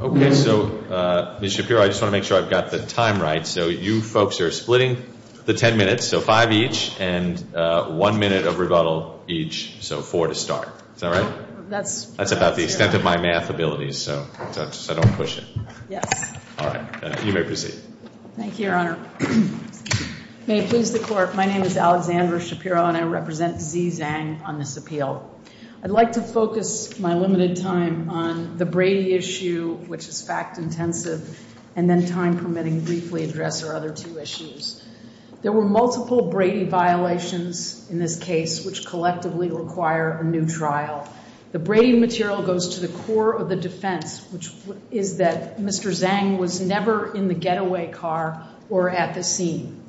Okay, so Ms. Shapiro, I just want to make sure I've got the time right. So you folks are splitting the 10 minutes, so five each, and one minute of rebuttal each, so four to start. Is that right? That's about the extent of my math abilities, so I don't push it. Yes. All right. You may proceed. Thank you, Your Honor. May it please the Court, my name is Alexandra Shapiro, and I represent Xi Zhang on this appeal. I'd like to focus my limited time on the Brady issue, which is fact intensive, and then, time permitting, briefly address our other two issues. There were multiple Brady violations in this case, which collectively require a new trial. The Brady material goes to the core of the defense, which is that Mr. Zhang was never in the getaway car or at the scene.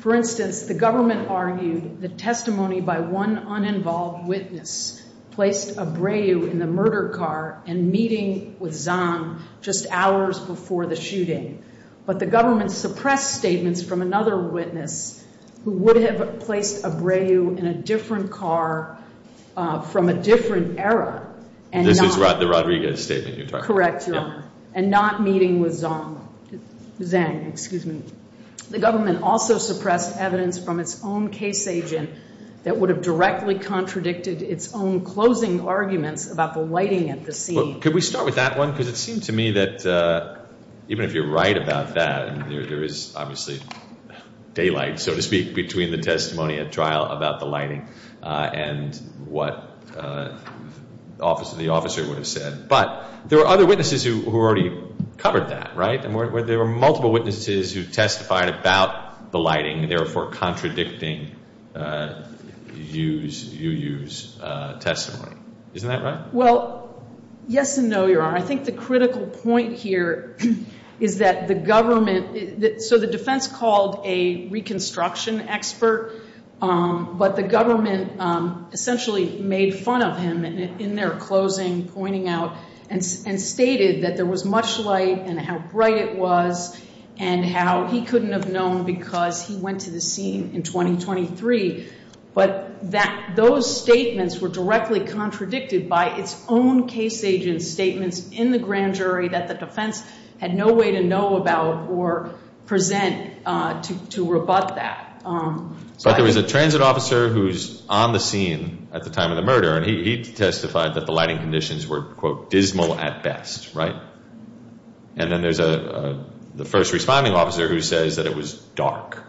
For instance, the government argued that testimony by one uninvolved witness placed a Breyu in the murder car and meeting with Zhang just hours before the shooting, but the government suppressed statements from another witness who would have placed a Breyu in a different car from a different era. This is the Rodriguez statement you're talking about. Correct, Your Honor, and not meeting with Zhang. The government also suppressed evidence from its own case agent that would have directly contradicted its own closing arguments about the lighting at the scene. Could we start with that one? Because it seems to me that even if you're right about that, there is obviously daylight, so to speak, between the testimony at trial about the lighting and what the officer would have said. But there were other witnesses who already covered that, right? There were multiple witnesses who testified about the lighting, therefore contradicting Yu Yu's testimony. Isn't that right? Well, yes and no, Your Honor. I think the critical point here is that the government—so the defense called a reconstruction expert, but the government essentially made fun of him in their closing, pointing out, and stated that there was much light and how bright it was and how he couldn't have known because he went to the scene in 2023. But those statements were directly contradicted by its own case agent's statements in the grand jury that the defense had no way to know about or present to rebut that. But there was a transit officer who was on the scene at the time of the murder, and he testified that the lighting conditions were, quote, dismal at best, right? And then there's the first responding officer who says that it was dark.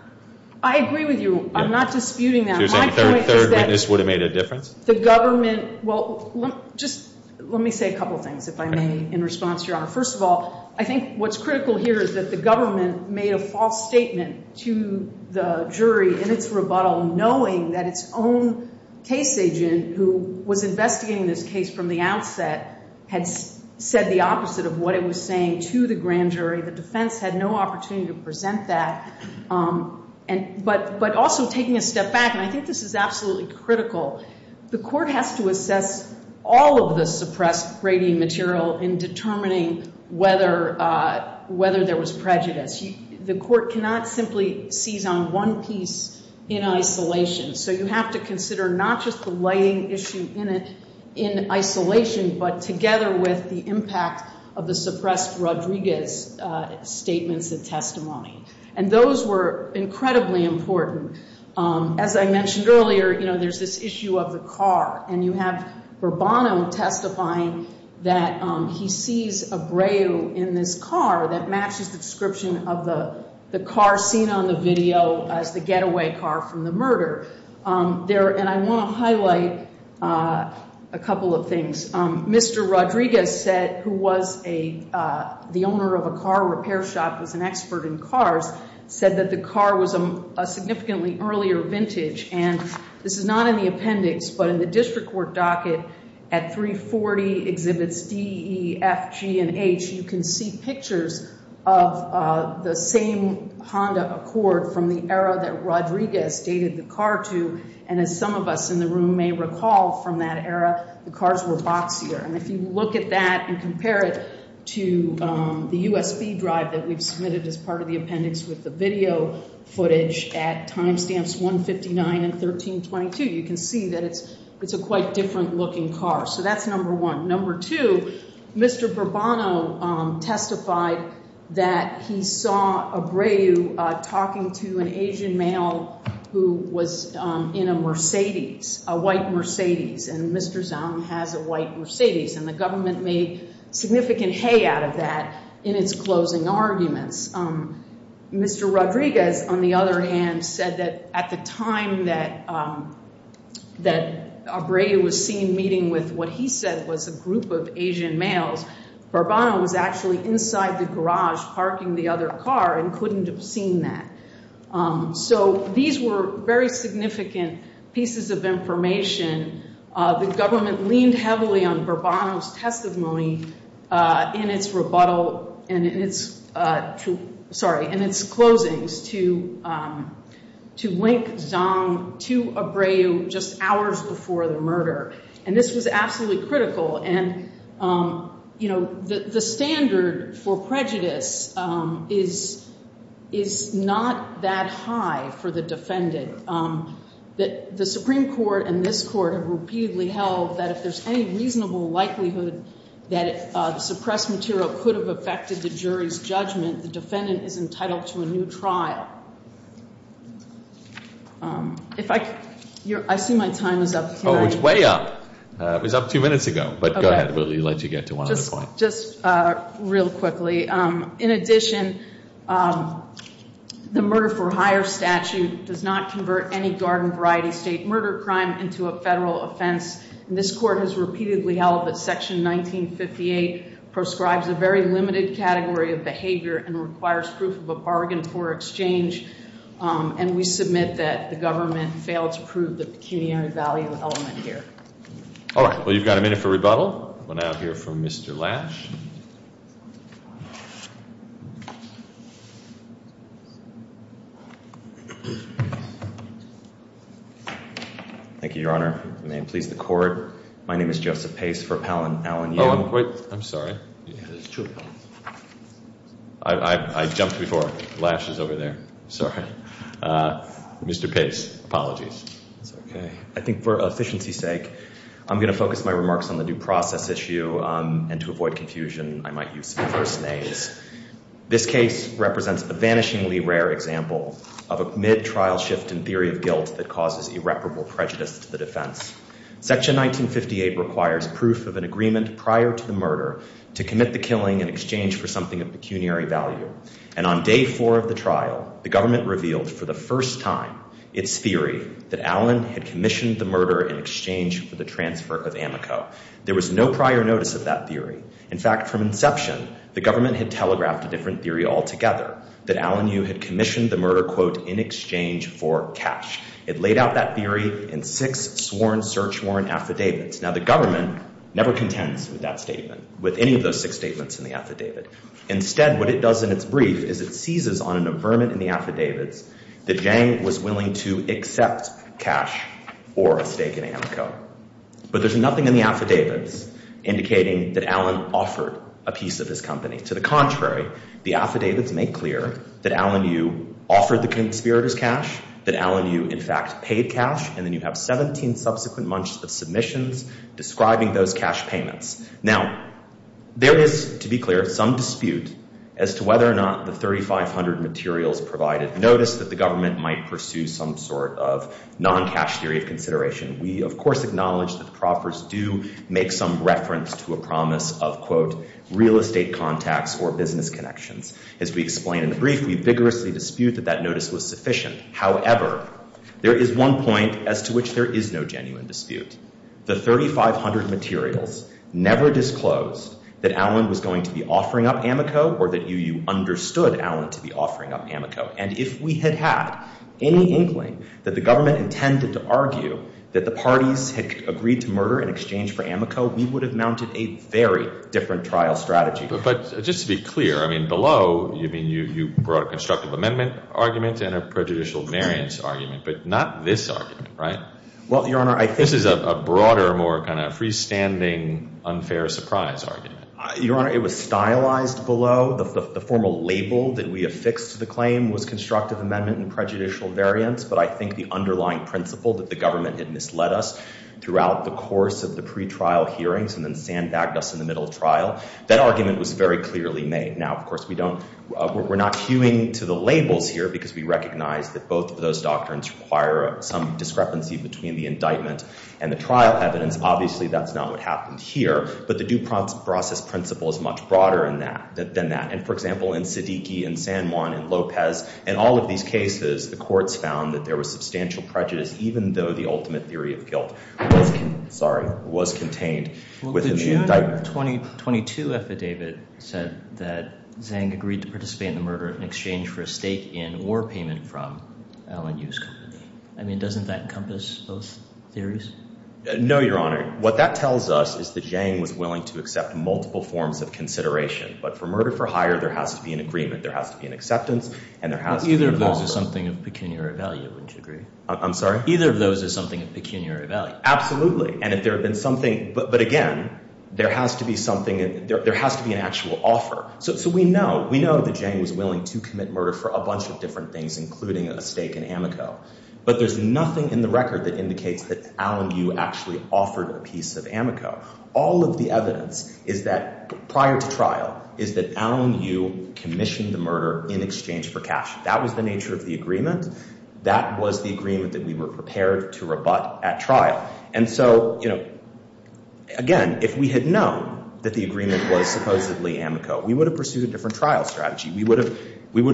I agree with you. I'm not disputing that. My point is that— So you're saying a third witness would have made a difference? The government—well, just let me say a couple things, if I may, in response to Your Honor. First of all, I think what's critical here is that the government made a false statement to the jury in its rebuttal knowing that its own case agent, who was investigating this case from the outset, had said the opposite of what it was saying to the grand jury. The defense had no opportunity to present that. But also taking a step back, and I think this is absolutely critical, the court has to assess all of the suppressed gradient material in determining whether there was prejudice. The court cannot simply seize on one piece in isolation. So you have to consider not just the lighting issue in isolation, but together with the impact of the suppressed Rodriguez statements and testimony. And those were incredibly important. As I mentioned earlier, you know, there's this issue of the car, and you have Bourbono testifying that he sees a Breu in this car that matches the description of the car seen on the video as the getaway car from the murder. And I want to highlight a couple of things. Mr. Rodriguez said, who was the owner of a car repair shop, was an expert in cars, said that the car was a significantly earlier vintage. And this is not in the appendix, but in the district court docket at 340 Exhibits D, E, F, G, and H, you can see pictures of the same Honda Accord from the era that Rodriguez dated the car to. And as some of us in the room may recall from that era, the cars were boxier. And if you look at that and compare it to the USB drive that we've submitted as part of the appendix with the video footage at time stamps 159 and 1322, you can see that it's a quite different looking car. So that's number one. Number two, Mr. Bourbono testified that he saw a Breu talking to an Asian male who was in a Mercedes, a white Mercedes. And Mr. Zhang has a white Mercedes. And the government made significant hay out of that in its closing arguments. Mr. Rodriguez, on the other hand, said that at the time that a Breu was seen meeting with what he said was a group of Asian males, Bourbono was actually inside the garage parking the other car and couldn't have seen that. So these were very significant pieces of information. The government leaned heavily on Bourbono's testimony in its rebuttal and in its closings to wink Zhang to a Breu just hours before the murder. And this was absolutely critical. And, you know, the standard for prejudice is not that high for the defendant. The Supreme Court and this Court have repeatedly held that if there's any reasonable likelihood that the suppressed material could have affected the jury's judgment, the defendant is entitled to a new trial. I see my time is up. Oh, it's way up. It was up two minutes ago. But go ahead. We'll let you get to one other point. Just real quickly. In addition, the murder for hire statute does not convert any garden variety state murder crime into a federal offense. And this Court has repeatedly held that Section 1958 proscribes a very limited category of behavior and requires proof of a bargain for exchange. And we submit that the government failed to prove the pecuniary value element here. All right. Well, you've got a minute for rebuttal. We'll now hear from Mr. Lash. Thank you, Your Honor. May it please the Court. My name is Joseph Pace for Pallon. Oh, I'm sorry. I jumped before. Lash is over there. Sorry. Mr. Pace, apologies. That's okay. I think for efficiency's sake, I'm going to focus my remarks on the due process issue. And to avoid confusion, I might use some first names. This case represents a vanishingly rare example of a mid-trial shift in theory of guilt that causes irreparable prejudice to the defense. Section 1958 requires proof of an agreement prior to the murder to commit the killing in exchange for something of pecuniary value. And on day four of the trial, the government revealed for the first time its theory that Allen had commissioned the murder in exchange for the transfer of Amico. There was no prior notice of that theory. In fact, from inception, the government had telegraphed a different theory altogether, that Allen Yu had commissioned the murder, quote, in exchange for cash. It laid out that theory in six sworn search warrant affidavits. Now, the government never contends with that statement, with any of those six statements in the affidavit. Instead, what it does in its brief is it seizes on an affirmative in the affidavits that Zhang was willing to accept cash or a stake in Amico. But there's nothing in the affidavits indicating that Allen offered a piece of his company. To the contrary, the affidavits make clear that Allen Yu offered the conspirators cash, that Allen Yu, in fact, paid cash. And then you have 17 subsequent months of submissions describing those cash payments. Now, there is, to be clear, some dispute as to whether or not the 3,500 materials provided notice that the government might pursue some sort of non-cash theory of consideration. We, of course, acknowledge that the proffers do make some reference to a promise of, quote, real estate contacts or business connections. As we explain in the brief, we vigorously dispute that that notice was sufficient. However, there is one point as to which there is no genuine dispute. The 3,500 materials never disclosed that Allen was going to be offering up Amico or that Yu understood Allen to be offering up Amico. And if we had had any inkling that the government intended to argue that the parties had agreed to murder in exchange for Amico, we would have mounted a very different trial strategy. But just to be clear, I mean, below you brought a constructive amendment argument and a prejudicial variance argument, but not this argument, right? Well, Your Honor, I think— This is a broader, more kind of freestanding, unfair surprise argument. Your Honor, it was stylized below. The formal label that we affixed to the claim was constructive amendment and prejudicial variance. But I think the underlying principle that the government had misled us throughout the course of the pretrial hearings and then sandbagged us in the middle trial, that argument was very clearly made. Now, of course, we're not hewing to the labels here because we recognize that both of those doctrines require some discrepancy between the indictment and the trial evidence. Obviously, that's not what happened here. But the due process principle is much broader than that. And, for example, in Siddiqui and Sanjuan and Lopez, in all of these cases, the courts found that there was substantial prejudice, even though the ultimate theory of guilt was contained within the indictment. The § 22 affidavit said that Zhang agreed to participate in the murder in exchange for a stake in or payment from Alan Yu's company. I mean, doesn't that encompass both theories? No, Your Honor. What that tells us is that Zhang was willing to accept multiple forms of consideration. But for murder for hire, there has to be an agreement. There has to be an acceptance, and there has to be a— Well, either of those is something of pecuniary value, wouldn't you agree? I'm sorry? Either of those is something of pecuniary value. Absolutely. And if there had been something— But, again, there has to be something—there has to be an actual offer. So we know. We know that Zhang was willing to commit murder for a bunch of different things, including a stake in Amico. But there's nothing in the record that indicates that Alan Yu actually offered a piece of Amico. All of the evidence is that prior to trial is that Alan Yu commissioned the murder in exchange for cash. That was the nature of the agreement. That was the agreement that we were prepared to rebut at trial. And so, again, if we had known that the agreement was supposedly Amico, we would have pursued a different trial strategy. We would have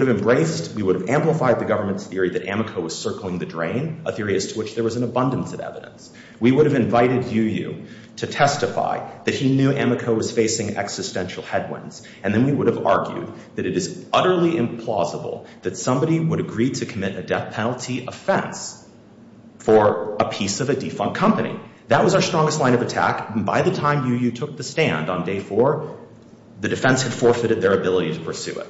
embraced—we would have amplified the government's theory that Amico was circling the drain, a theory as to which there was an abundance of evidence. We would have invited Yu to testify that he knew Amico was facing existential headwinds. And then we would have argued that it is utterly implausible that somebody would agree to commit a death penalty offense for a piece of a defunct company. That was our strongest line of attack. And by the time Yu Yu took the stand on day four, the defense had forfeited their ability to pursue it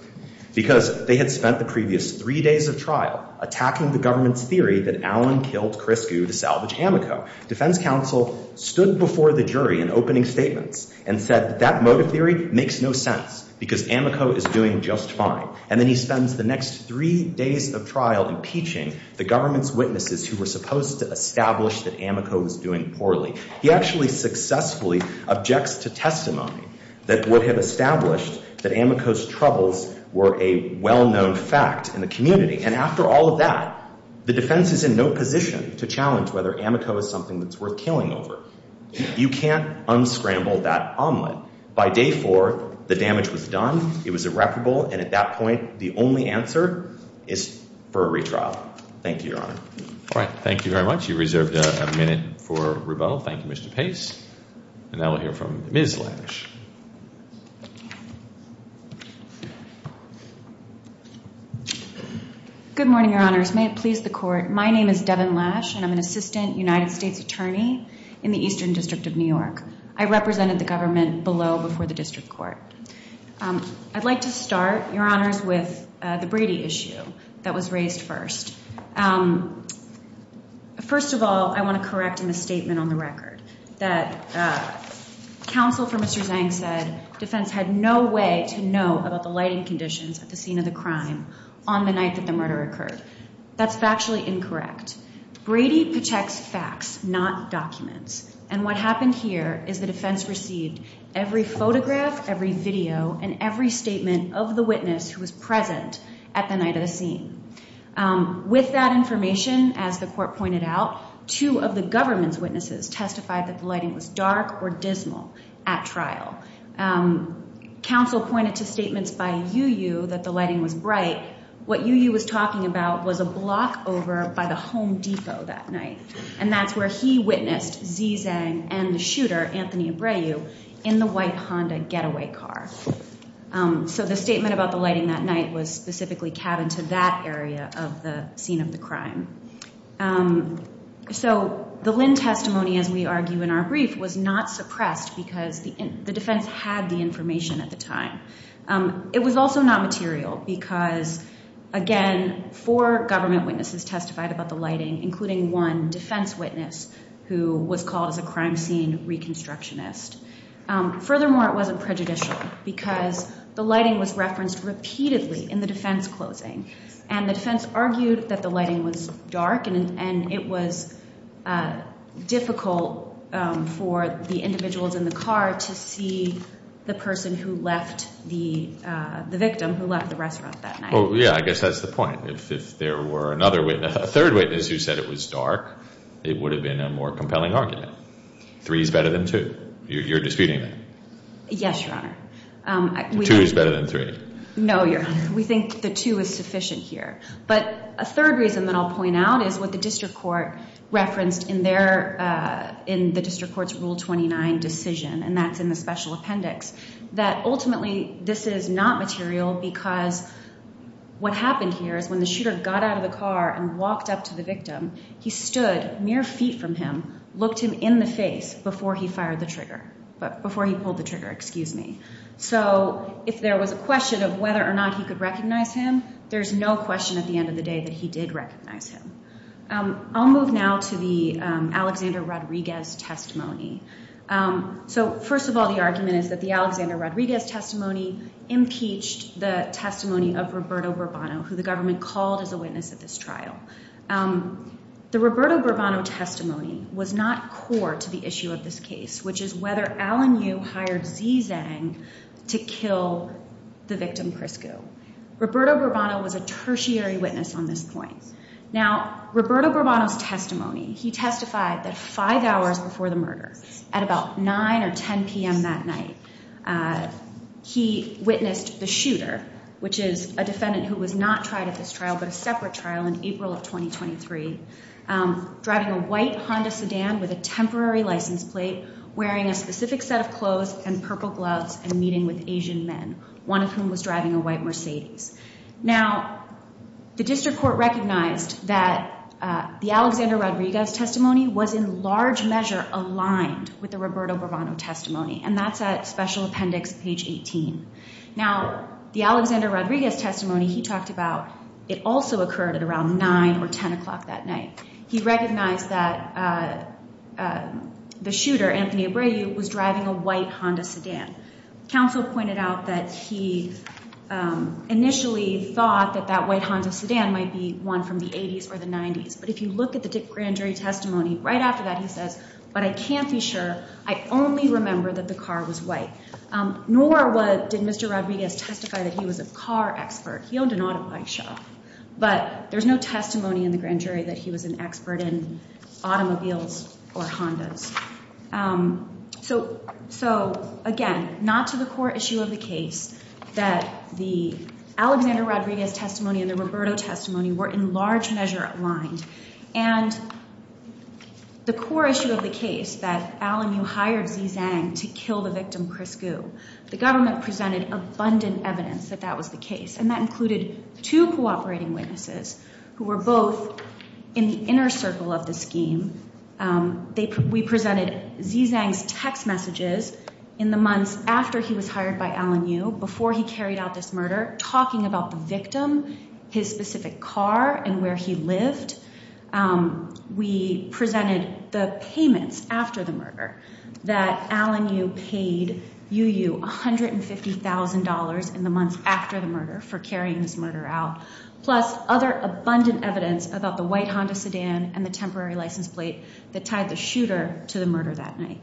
because they had spent the previous three days of trial attacking the government's theory that Alan killed Chris Gu to salvage Amico. Defense counsel stood before the jury in opening statements and said that that motive theory makes no sense because Amico is doing just fine. And then he spends the next three days of trial impeaching the government's witnesses who were supposed to establish that Amico was doing poorly. He actually successfully objects to testimony that would have established that Amico's troubles were a well-known fact in the community. And after all of that, the defense is in no position to challenge whether Amico is something that's worth killing over. You can't unscramble that omelet. By day four, the damage was done. It was irreparable. And at that point, the only answer is for a retrial. Thank you, Your Honor. All right. Thank you very much. You reserved a minute for rebuttal. Thank you, Mr. Pace. And now we'll hear from Ms. Lash. Good morning, Your Honors. May it please the Court. My name is Devin Lash, and I'm an assistant United States attorney in the Eastern District of New York. I represented the government below before the district court. I'd like to start, Your Honors, with the Brady issue that was raised first. First of all, I want to correct a misstatement on the record that counsel for Mr. Zhang said defense had no way to know about the lighting conditions at the scene of the crime on the night that the murder occurred. That's factually incorrect. Brady protects facts, not documents. And what happened here is the defense received every photograph, every video, and every statement of the witness who was present at the night of the scene. With that information, as the court pointed out, two of the government's witnesses testified that the lighting was dark or dismal at trial. Counsel pointed to statements by Yu Yu that the lighting was bright. What Yu Yu was talking about was a block over by the Home Depot that night, and that's where he witnessed Xi Zhang and the shooter, Anthony Abreu, in the white Honda getaway car. So the statement about the lighting that night was specifically cabined to that area of the scene of the crime. So the Lin testimony, as we argue in our brief, was not suppressed because the defense had the information at the time. It was also not material because, again, four government witnesses testified about the lighting, including one defense witness who was called as a crime scene reconstructionist. Furthermore, it wasn't prejudicial because the lighting was referenced repeatedly in the defense closing, and the defense argued that the lighting was dark and it was difficult for the individuals in the car to see the person who left the victim who left the restaurant that night. Well, yeah, I guess that's the point. If there were another witness, a third witness who said it was dark, it would have been a more compelling argument. Three is better than two. You're disputing that. Yes, Your Honor. Two is better than three. No, Your Honor. We think the two is sufficient here. But a third reason that I'll point out is what the district court referenced in the district court's Rule 29 decision, and that's in the special appendix, that ultimately this is not material because what happened here is when the shooter got out of the car and walked up to the victim, he stood mere feet from him, looked him in the face before he pulled the trigger. So if there was a question of whether or not he could recognize him, there's no question at the end of the day that he did recognize him. I'll move now to the Alexander Rodriguez testimony. So first of all, the argument is that the Alexander Rodriguez testimony impeached the testimony of Roberto Burbano, who the government called as a witness at this trial. The Roberto Burbano testimony was not core to the issue of this case, which is whether Alan Yu hired Xi Zhang to kill the victim, Priscu. Roberto Burbano was a tertiary witness on this point. Now, Roberto Burbano's testimony, he testified that five hours before the murder, at about 9 or 10 p.m. that night, he witnessed the shooter, which is a defendant who was not tried at this trial but a separate trial in April of 2023, driving a white Honda sedan with a temporary license plate, wearing a specific set of clothes and purple gloves, and meeting with Asian men, one of whom was driving a white Mercedes. Now, the district court recognized that the Alexander Rodriguez testimony was in large measure aligned with the Roberto Burbano testimony, and that's at Special Appendix, page 18. Now, the Alexander Rodriguez testimony he talked about, it also occurred at around 9 or 10 o'clock that night. He recognized that the shooter, Anthony Abreu, was driving a white Honda sedan. Counsel pointed out that he initially thought that that white Honda sedan might be one from the 80s or the 90s, but if you look at the grand jury testimony, right after that he says, but I can't be sure, I only remember that the car was white. Nor did Mr. Rodriguez testify that he was a car expert. He owned an auto body shop. But there's no testimony in the grand jury that he was an expert in automobiles or Hondas. So, again, not to the core issue of the case, that the Alexander Rodriguez testimony and the Roberto testimony were in large measure aligned. And the core issue of the case, that Alan Yu hired Zizang to kill the victim, Chris Gu, the government presented abundant evidence that that was the case, and that included two cooperating witnesses who were both in the inner circle of the scheme. We presented Zizang's text messages in the months after he was hired by Alan Yu, before he carried out this murder, talking about the victim, his specific car, and where he lived. We presented the payments after the murder, that Alan Yu paid Yu Yu $150,000 in the months after the murder for carrying this murder out, plus other abundant evidence about the white Honda sedan and the temporary license plate that tied the shooter to the murder that night.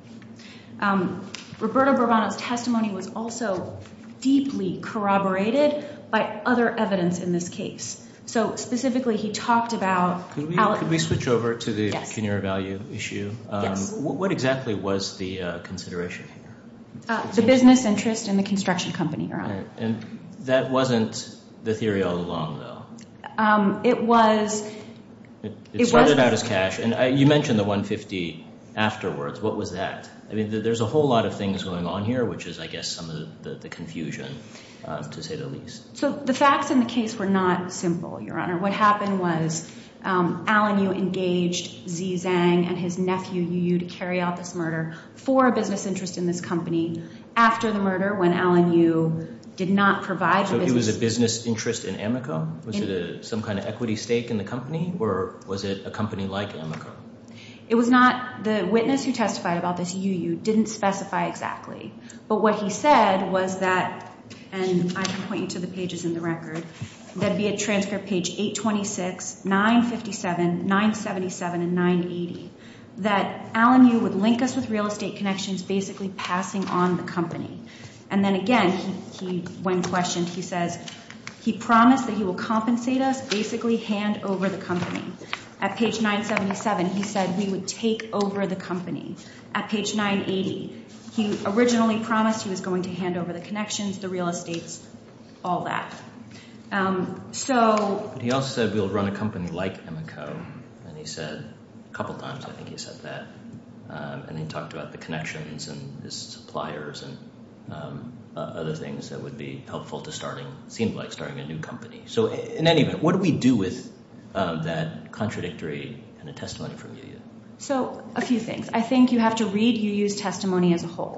Roberto Bourbono's testimony was also deeply corroborated by other evidence in this case. So, specifically, he talked about- Can we switch over to the cuneary value issue? Yes. What exactly was the consideration? The business interest and the construction company. That wasn't the theory all along, though. It was- It started out as cash, and you mentioned the $150,000 afterwards. What was that? I mean, there's a whole lot of things going on here, which is, I guess, some of the confusion, to say the least. So, the facts in the case were not simple, Your Honor. What happened was Alan Yu engaged Zizang and his nephew Yu Yu to carry out this murder for a business interest in this company. After the murder, when Alan Yu did not provide the business- It was not- The witness who testified about this, Yu Yu, didn't specify exactly. But what he said was that- And I can point you to the pages in the record. That'd be at transcript page 826, 957, 977, and 980. That Alan Yu would link us with real estate connections, basically passing on the company. And then, again, when questioned, he says he promised that he will compensate us, basically hand over the company. At page 977, he said we would take over the company. At page 980, he originally promised he was going to hand over the connections, the real estates, all that. So- He also said we'll run a company like Emico. And he said- A couple times, I think he said that. And he talked about the connections and his suppliers and other things that would be helpful to starting- It seemed like starting a new company. So, in any event, what do we do with that contradictory testimony from Yu Yu? So, a few things. I think you have to read Yu Yu's testimony as a whole.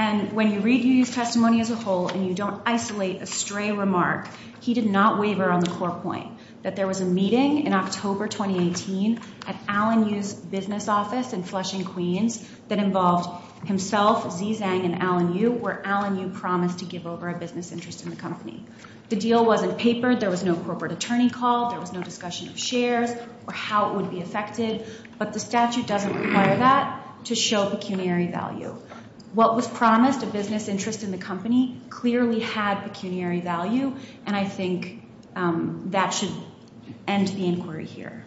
And when you read Yu Yu's testimony as a whole and you don't isolate a stray remark, he did not waver on the core point. That there was a meeting in October 2018 at Alan Yu's business office in Flushing, Queens, that involved himself, Zizang, and Alan Yu, where Alan Yu promised to give over a business interest in the company. The deal wasn't papered. There was no corporate attorney called. There was no discussion of shares or how it would be affected. But the statute doesn't require that to show pecuniary value. What was promised, a business interest in the company, clearly had pecuniary value. And I think that should end the inquiry here.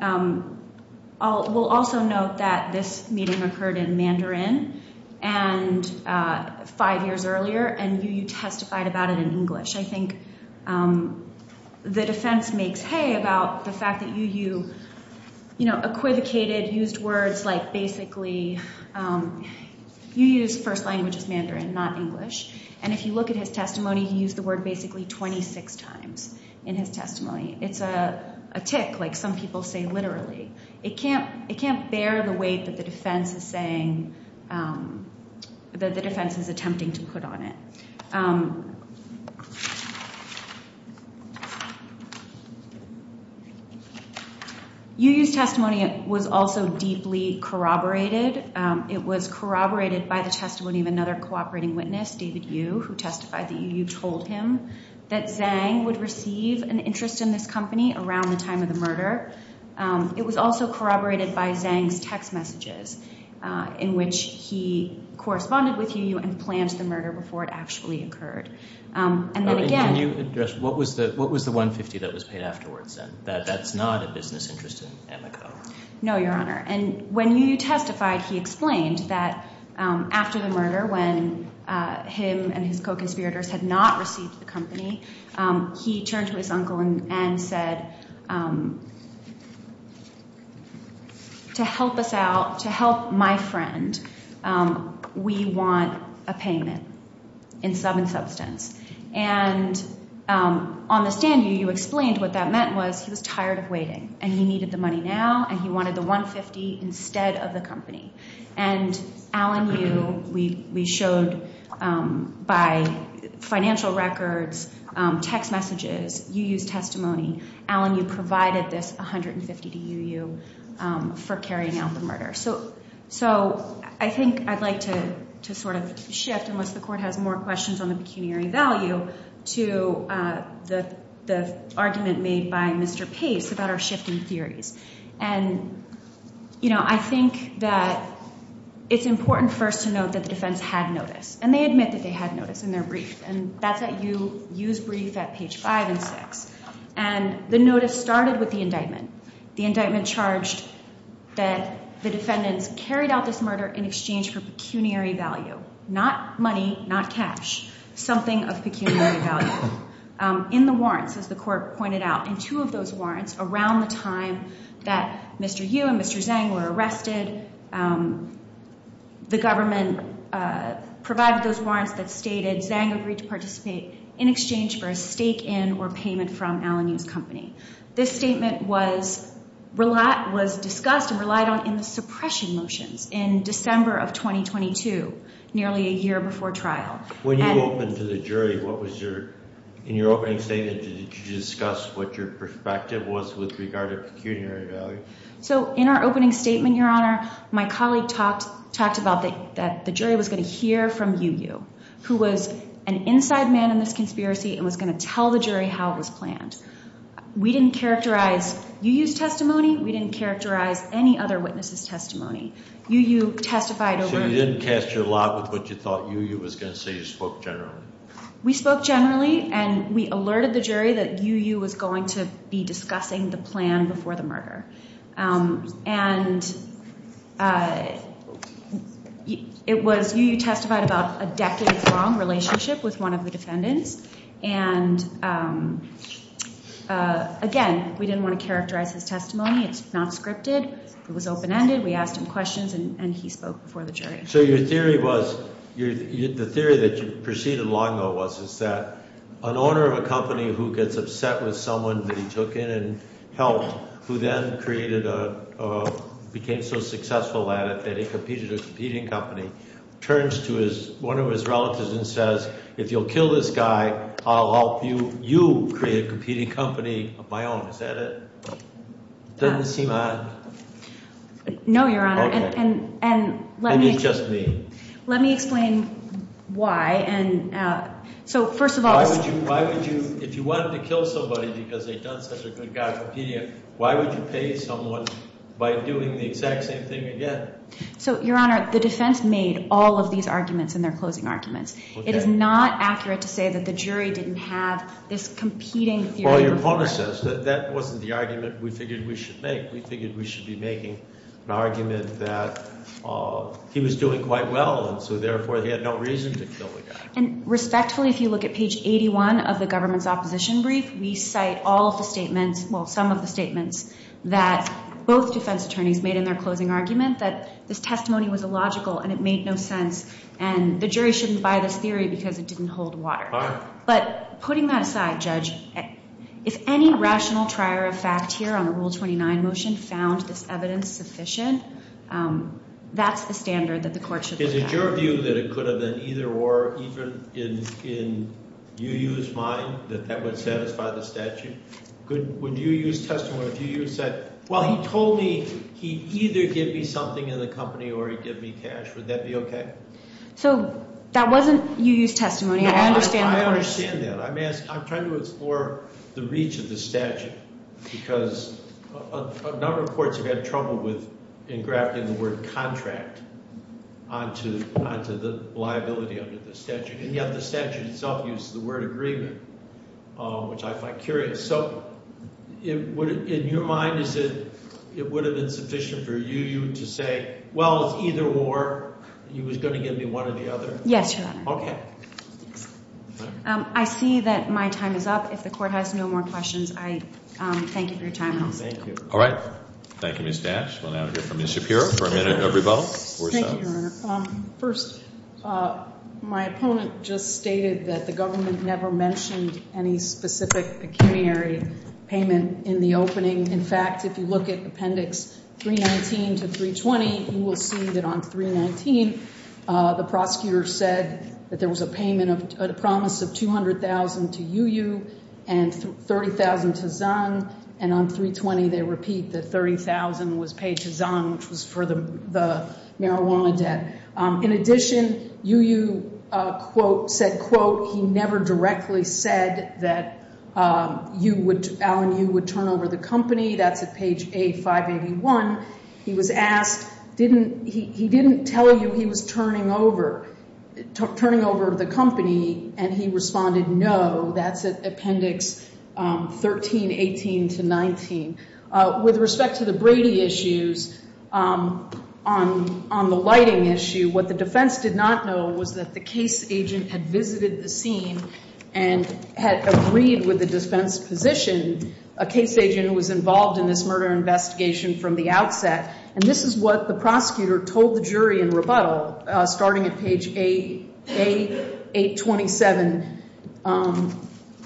We'll also note that this meeting occurred in Mandarin five years earlier, and Yu Yu testified about it in English. I think the defense makes hay about the fact that Yu Yu, you know, equivocated, used words like basically- Yu Yu's first language is Mandarin, not English. And if you look at his testimony, he used the word basically 26 times in his testimony. It's a tick, like some people say literally. It can't bear the weight that the defense is saying- that the defense is attempting to put on it. Yu Yu's testimony was also deeply corroborated. It was corroborated by the testimony of another cooperating witness, David Yu, who testified that Yu Yu told him that Zhang would receive an interest in this company around the time of the murder. It was also corroborated by Zhang's text messages in which he corresponded with Yu Yu and planned the murder before it actually occurred. And then again- Can you address what was the 150 that was paid afterwards then? That that's not a business interest in Amico. No, Your Honor. And when Yu Yu testified, he explained that after the murder, when him and his co-conspirators had not received the company, he turned to his uncle and said, to help us out, to help my friend, we want a payment in sub and substance. And on the stand, Yu Yu explained what that meant was he was tired of waiting and he needed the money now and he wanted the 150 instead of the company. And Alan Yu, we showed by financial records, text messages, Yu Yu's testimony, Alan Yu provided this 150 to Yu Yu for carrying out the murder. So I think I'd like to sort of shift, unless the court has more questions on the pecuniary value, to the argument made by Mr. Pace about our shifting theories. And, you know, I think that it's important first to note that the defense had notice. And they admit that they had notice in their brief. And that's at Yu Yu's brief at page 5 and 6. And the notice started with the indictment. The indictment charged that the defendants carried out this murder in exchange for pecuniary value, not money, not cash, something of pecuniary value. In the warrants, as the court pointed out, in two of those warrants, around the time that Mr. Yu and Mr. Zhang were arrested, the government provided those warrants that stated Zhang agreed to participate in exchange for a stake in or payment from Alan Yu's company. This statement was discussed and relied on in the suppression motions in December of 2022, nearly a year before trial. When you opened to the jury, in your opening statement, did you discuss what your perspective was with regard to pecuniary value? So in our opening statement, Your Honor, my colleague talked about that the jury was going to hear from Yu Yu, who was an inside man in this conspiracy and was going to tell the jury how it was planned. We didn't characterize Yu Yu's testimony. We didn't characterize any other witness's testimony. Yu Yu testified over— So you didn't cast your lot with what you thought Yu Yu was going to say. You spoke generally. We spoke generally, and we alerted the jury that Yu Yu was going to be discussing the plan before the murder. And it was Yu Yu testified about a decade-long relationship with one of the defendants. And, again, we didn't want to characterize his testimony. It's not scripted. It was open-ended. We asked him questions, and he spoke before the jury. So your theory was—the theory that you proceeded along, though, was that an owner of a company who gets upset with someone that he took in and helped, who then created a—became so successful at it that he competed with a competing company, turns to one of his relatives and says, If you'll kill this guy, I'll help you create a competing company of my own. Is that it? Doesn't this seem odd? No, Your Honor. Okay. And let me— And it's just me. Let me explain why. And so, first of all— Why would you—if you wanted to kill somebody because they'd done such a good job competing, why would you pay someone by doing the exact same thing again? So, Your Honor, the defense made all of these arguments in their closing arguments. Okay. It is not accurate to say that the jury didn't have this competing theory. Well, your point is this. That wasn't the argument we figured we should make. We figured we should be making an argument that he was doing quite well and so, therefore, he had no reason to kill the guy. And respectfully, if you look at page 81 of the government's opposition brief, we cite all of the statements—well, some of the statements that both defense attorneys made in their closing argument that this testimony was illogical and it made no sense and the jury shouldn't buy this theory because it didn't hold water. All right. But putting that aside, Judge, if any rational trier of fact here on the Rule 29 motion found this evidence sufficient, that's the standard that the court should— Is it your view that it could have been either or even in UU's mind that that would satisfy the statute? Would UU's testimony—if UU said, well, he told me he'd either give me something in the company or he'd give me cash, would that be okay? So, that wasn't UU's testimony. I understand the court— No, I understand that. I'm trying to explore the reach of the statute because a number of courts have had trouble with engrafting the word contract onto the liability under the statute, and yet the statute itself uses the word agreement, which I find curious. So, in your mind, is it—it would have been sufficient for UU to say, well, it's either or, he was going to give me one or the other? Yes, Your Honor. Okay. I see that my time is up. If the court has no more questions, I thank you for your time. Thank you. All right. Thank you, Ms. Dash. We'll now hear from Ms. Shapiro for a minute of rebuttal. Thank you, Your Honor. First, my opponent just stated that the government never mentioned any specific pecuniary payment in the opening. In fact, if you look at Appendix 319 to 320, you will see that on 319 the prosecutor said that there was a promise of $200,000 to UU and $30,000 to Zung, and on 320 they repeat that $30,000 was paid to Zung, which was for the marijuana debt. In addition, UU said, quote, he never directly said that Alan Yu would turn over the company. That's at page A581. He was asked, he didn't tell you he was turning over the company, and he responded, no, that's at Appendix 1318 to 19. With respect to the Brady issues, on the lighting issue, what the defense did not know was that the case agent had visited the scene and had agreed with the defense position. A case agent was involved in this murder investigation from the outset, and this is what the prosecutor told the jury in rebuttal starting at page A827.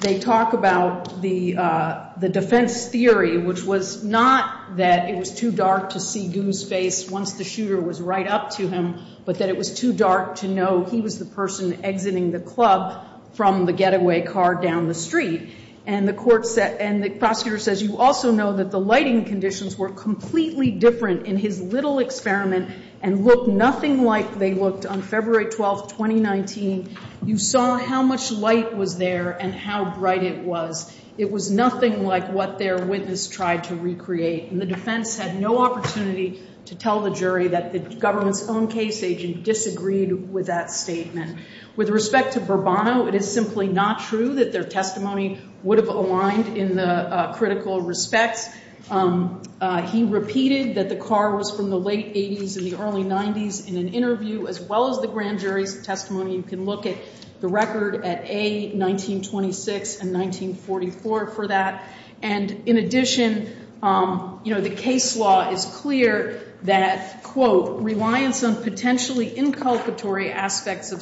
They talk about the defense theory, which was not that it was too dark to see Gu's face once the shooter was right up to him, but that it was too dark to know he was the person exiting the club from the getaway car down the street. And the court said, and the prosecutor says, you also know that the lighting conditions were completely different in his little experiment and looked nothing like they looked on February 12, 2019. You saw how much light was there and how bright it was. It was nothing like what their witness tried to recreate. And the defense had no opportunity to tell the jury that the government's own case agent disagreed with that statement. With respect to Bourbonno, it is simply not true that their testimony would have aligned in the critical respects. He repeated that the car was from the late 80s and the early 90s in an interview, as well as the grand jury's testimony. You can look at the record at A, 1926 and 1944 for that. And in addition, the case law is clear that, quote, reliance on potentially inculcatory aspects of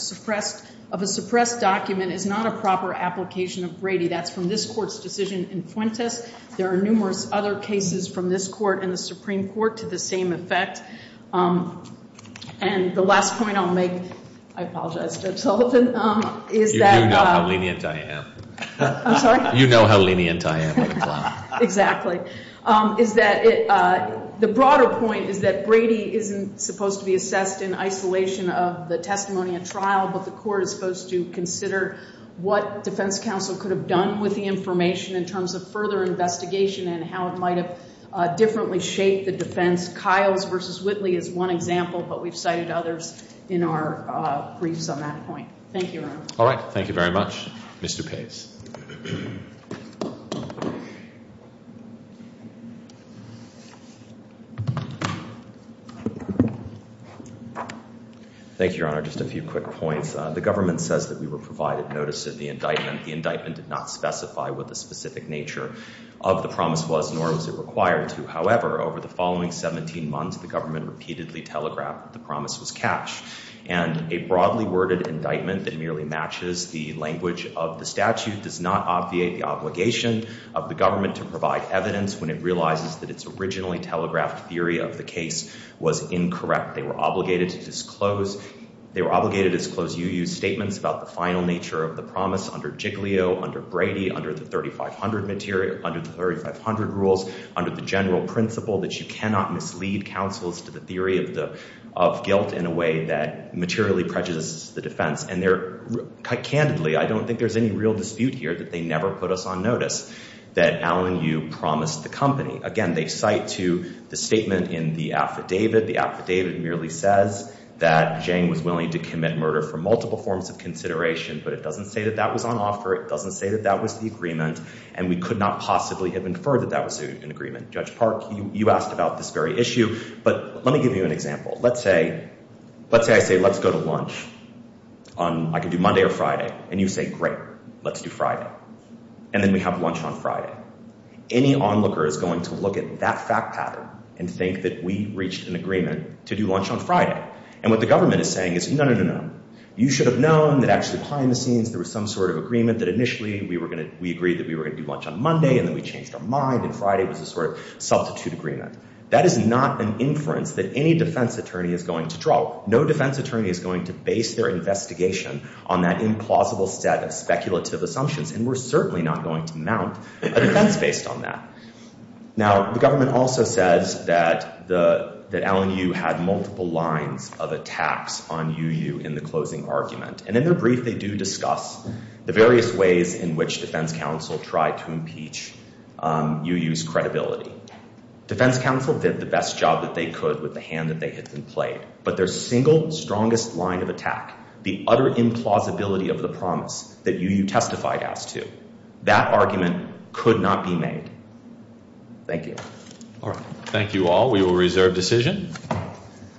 a suppressed document is not a proper application of Brady. That's from this court's decision in Fuentes. There are numerous other cases from this court and the Supreme Court to the same effect. And the last point I'll make, I apologize, Judge Sullivan. You do know how lenient I am. I'm sorry? You know how lenient I am. Exactly. The broader point is that Brady isn't supposed to be assessed in isolation of the testimony and trial, but the court is supposed to consider what defense counsel could have done with the information in terms of further investigation and how it might have differently shaped the defense. Kyle's versus Whitley is one example, but we've cited others in our briefs on that point. Thank you, Your Honor. All right. Thank you very much. Mr. Pace. Thank you, Your Honor. Just a few quick points. The government says that we were provided notice of the indictment. The indictment did not specify what the specific nature of the promise was, nor was it required to. However, over the following 17 months, the government repeatedly telegraphed that the promise was cash. And a broadly worded indictment that merely matches the language of the statute does not obviate the obligation of the government to provide evidence when it realizes that its originally telegraphed theory of the case was incorrect. They were obligated to disclose UU's statements about the final nature of the promise under Jiglio, under Brady, under the 3500 rules, under the general principle that you cannot mislead counsels to the theory of guilt in a way that materially prejudices the defense. And they're, candidly, I don't think there's any real dispute here that they never put us on notice that Alan Yu promised the company. Again, they cite to the statement in the affidavit. The affidavit merely says that Jang was willing to commit murder for multiple forms of consideration, but it doesn't say that that was on offer, it doesn't say that that was the agreement, and we could not possibly have inferred that that was an agreement. Judge Park, you asked about this very issue, but let me give you an example. Let's say, let's say I say, let's go to lunch on, I could do Monday or Friday, and you say, great, let's do Friday. And then we have lunch on Friday. Any onlooker is going to look at that fact pattern and think that we reached an agreement to do lunch on Friday. And what the government is saying is, no, no, no, no. You should have known that actually behind the scenes there was some sort of agreement that initially we agreed that we were going to do lunch on Monday, and then we changed our mind and Friday was a sort of substitute agreement. That is not an inference that any defense attorney is going to draw. No defense attorney is going to base their investigation on that implausible set of speculative assumptions, and we're certainly not going to mount a defense based on that. Now, the government also says that Allen Yu had multiple lines of attacks on Yu Yu in the closing argument. And in their brief they do discuss the various ways in which defense counsel tried to impeach Yu Yu's credibility. Defense counsel did the best job that they could with the hand that they had been played, but their single strongest line of attack, the utter implausibility of the promise that Yu Yu testified as to, that argument could not be made. Thank you. Thank you all. We will reserve decision.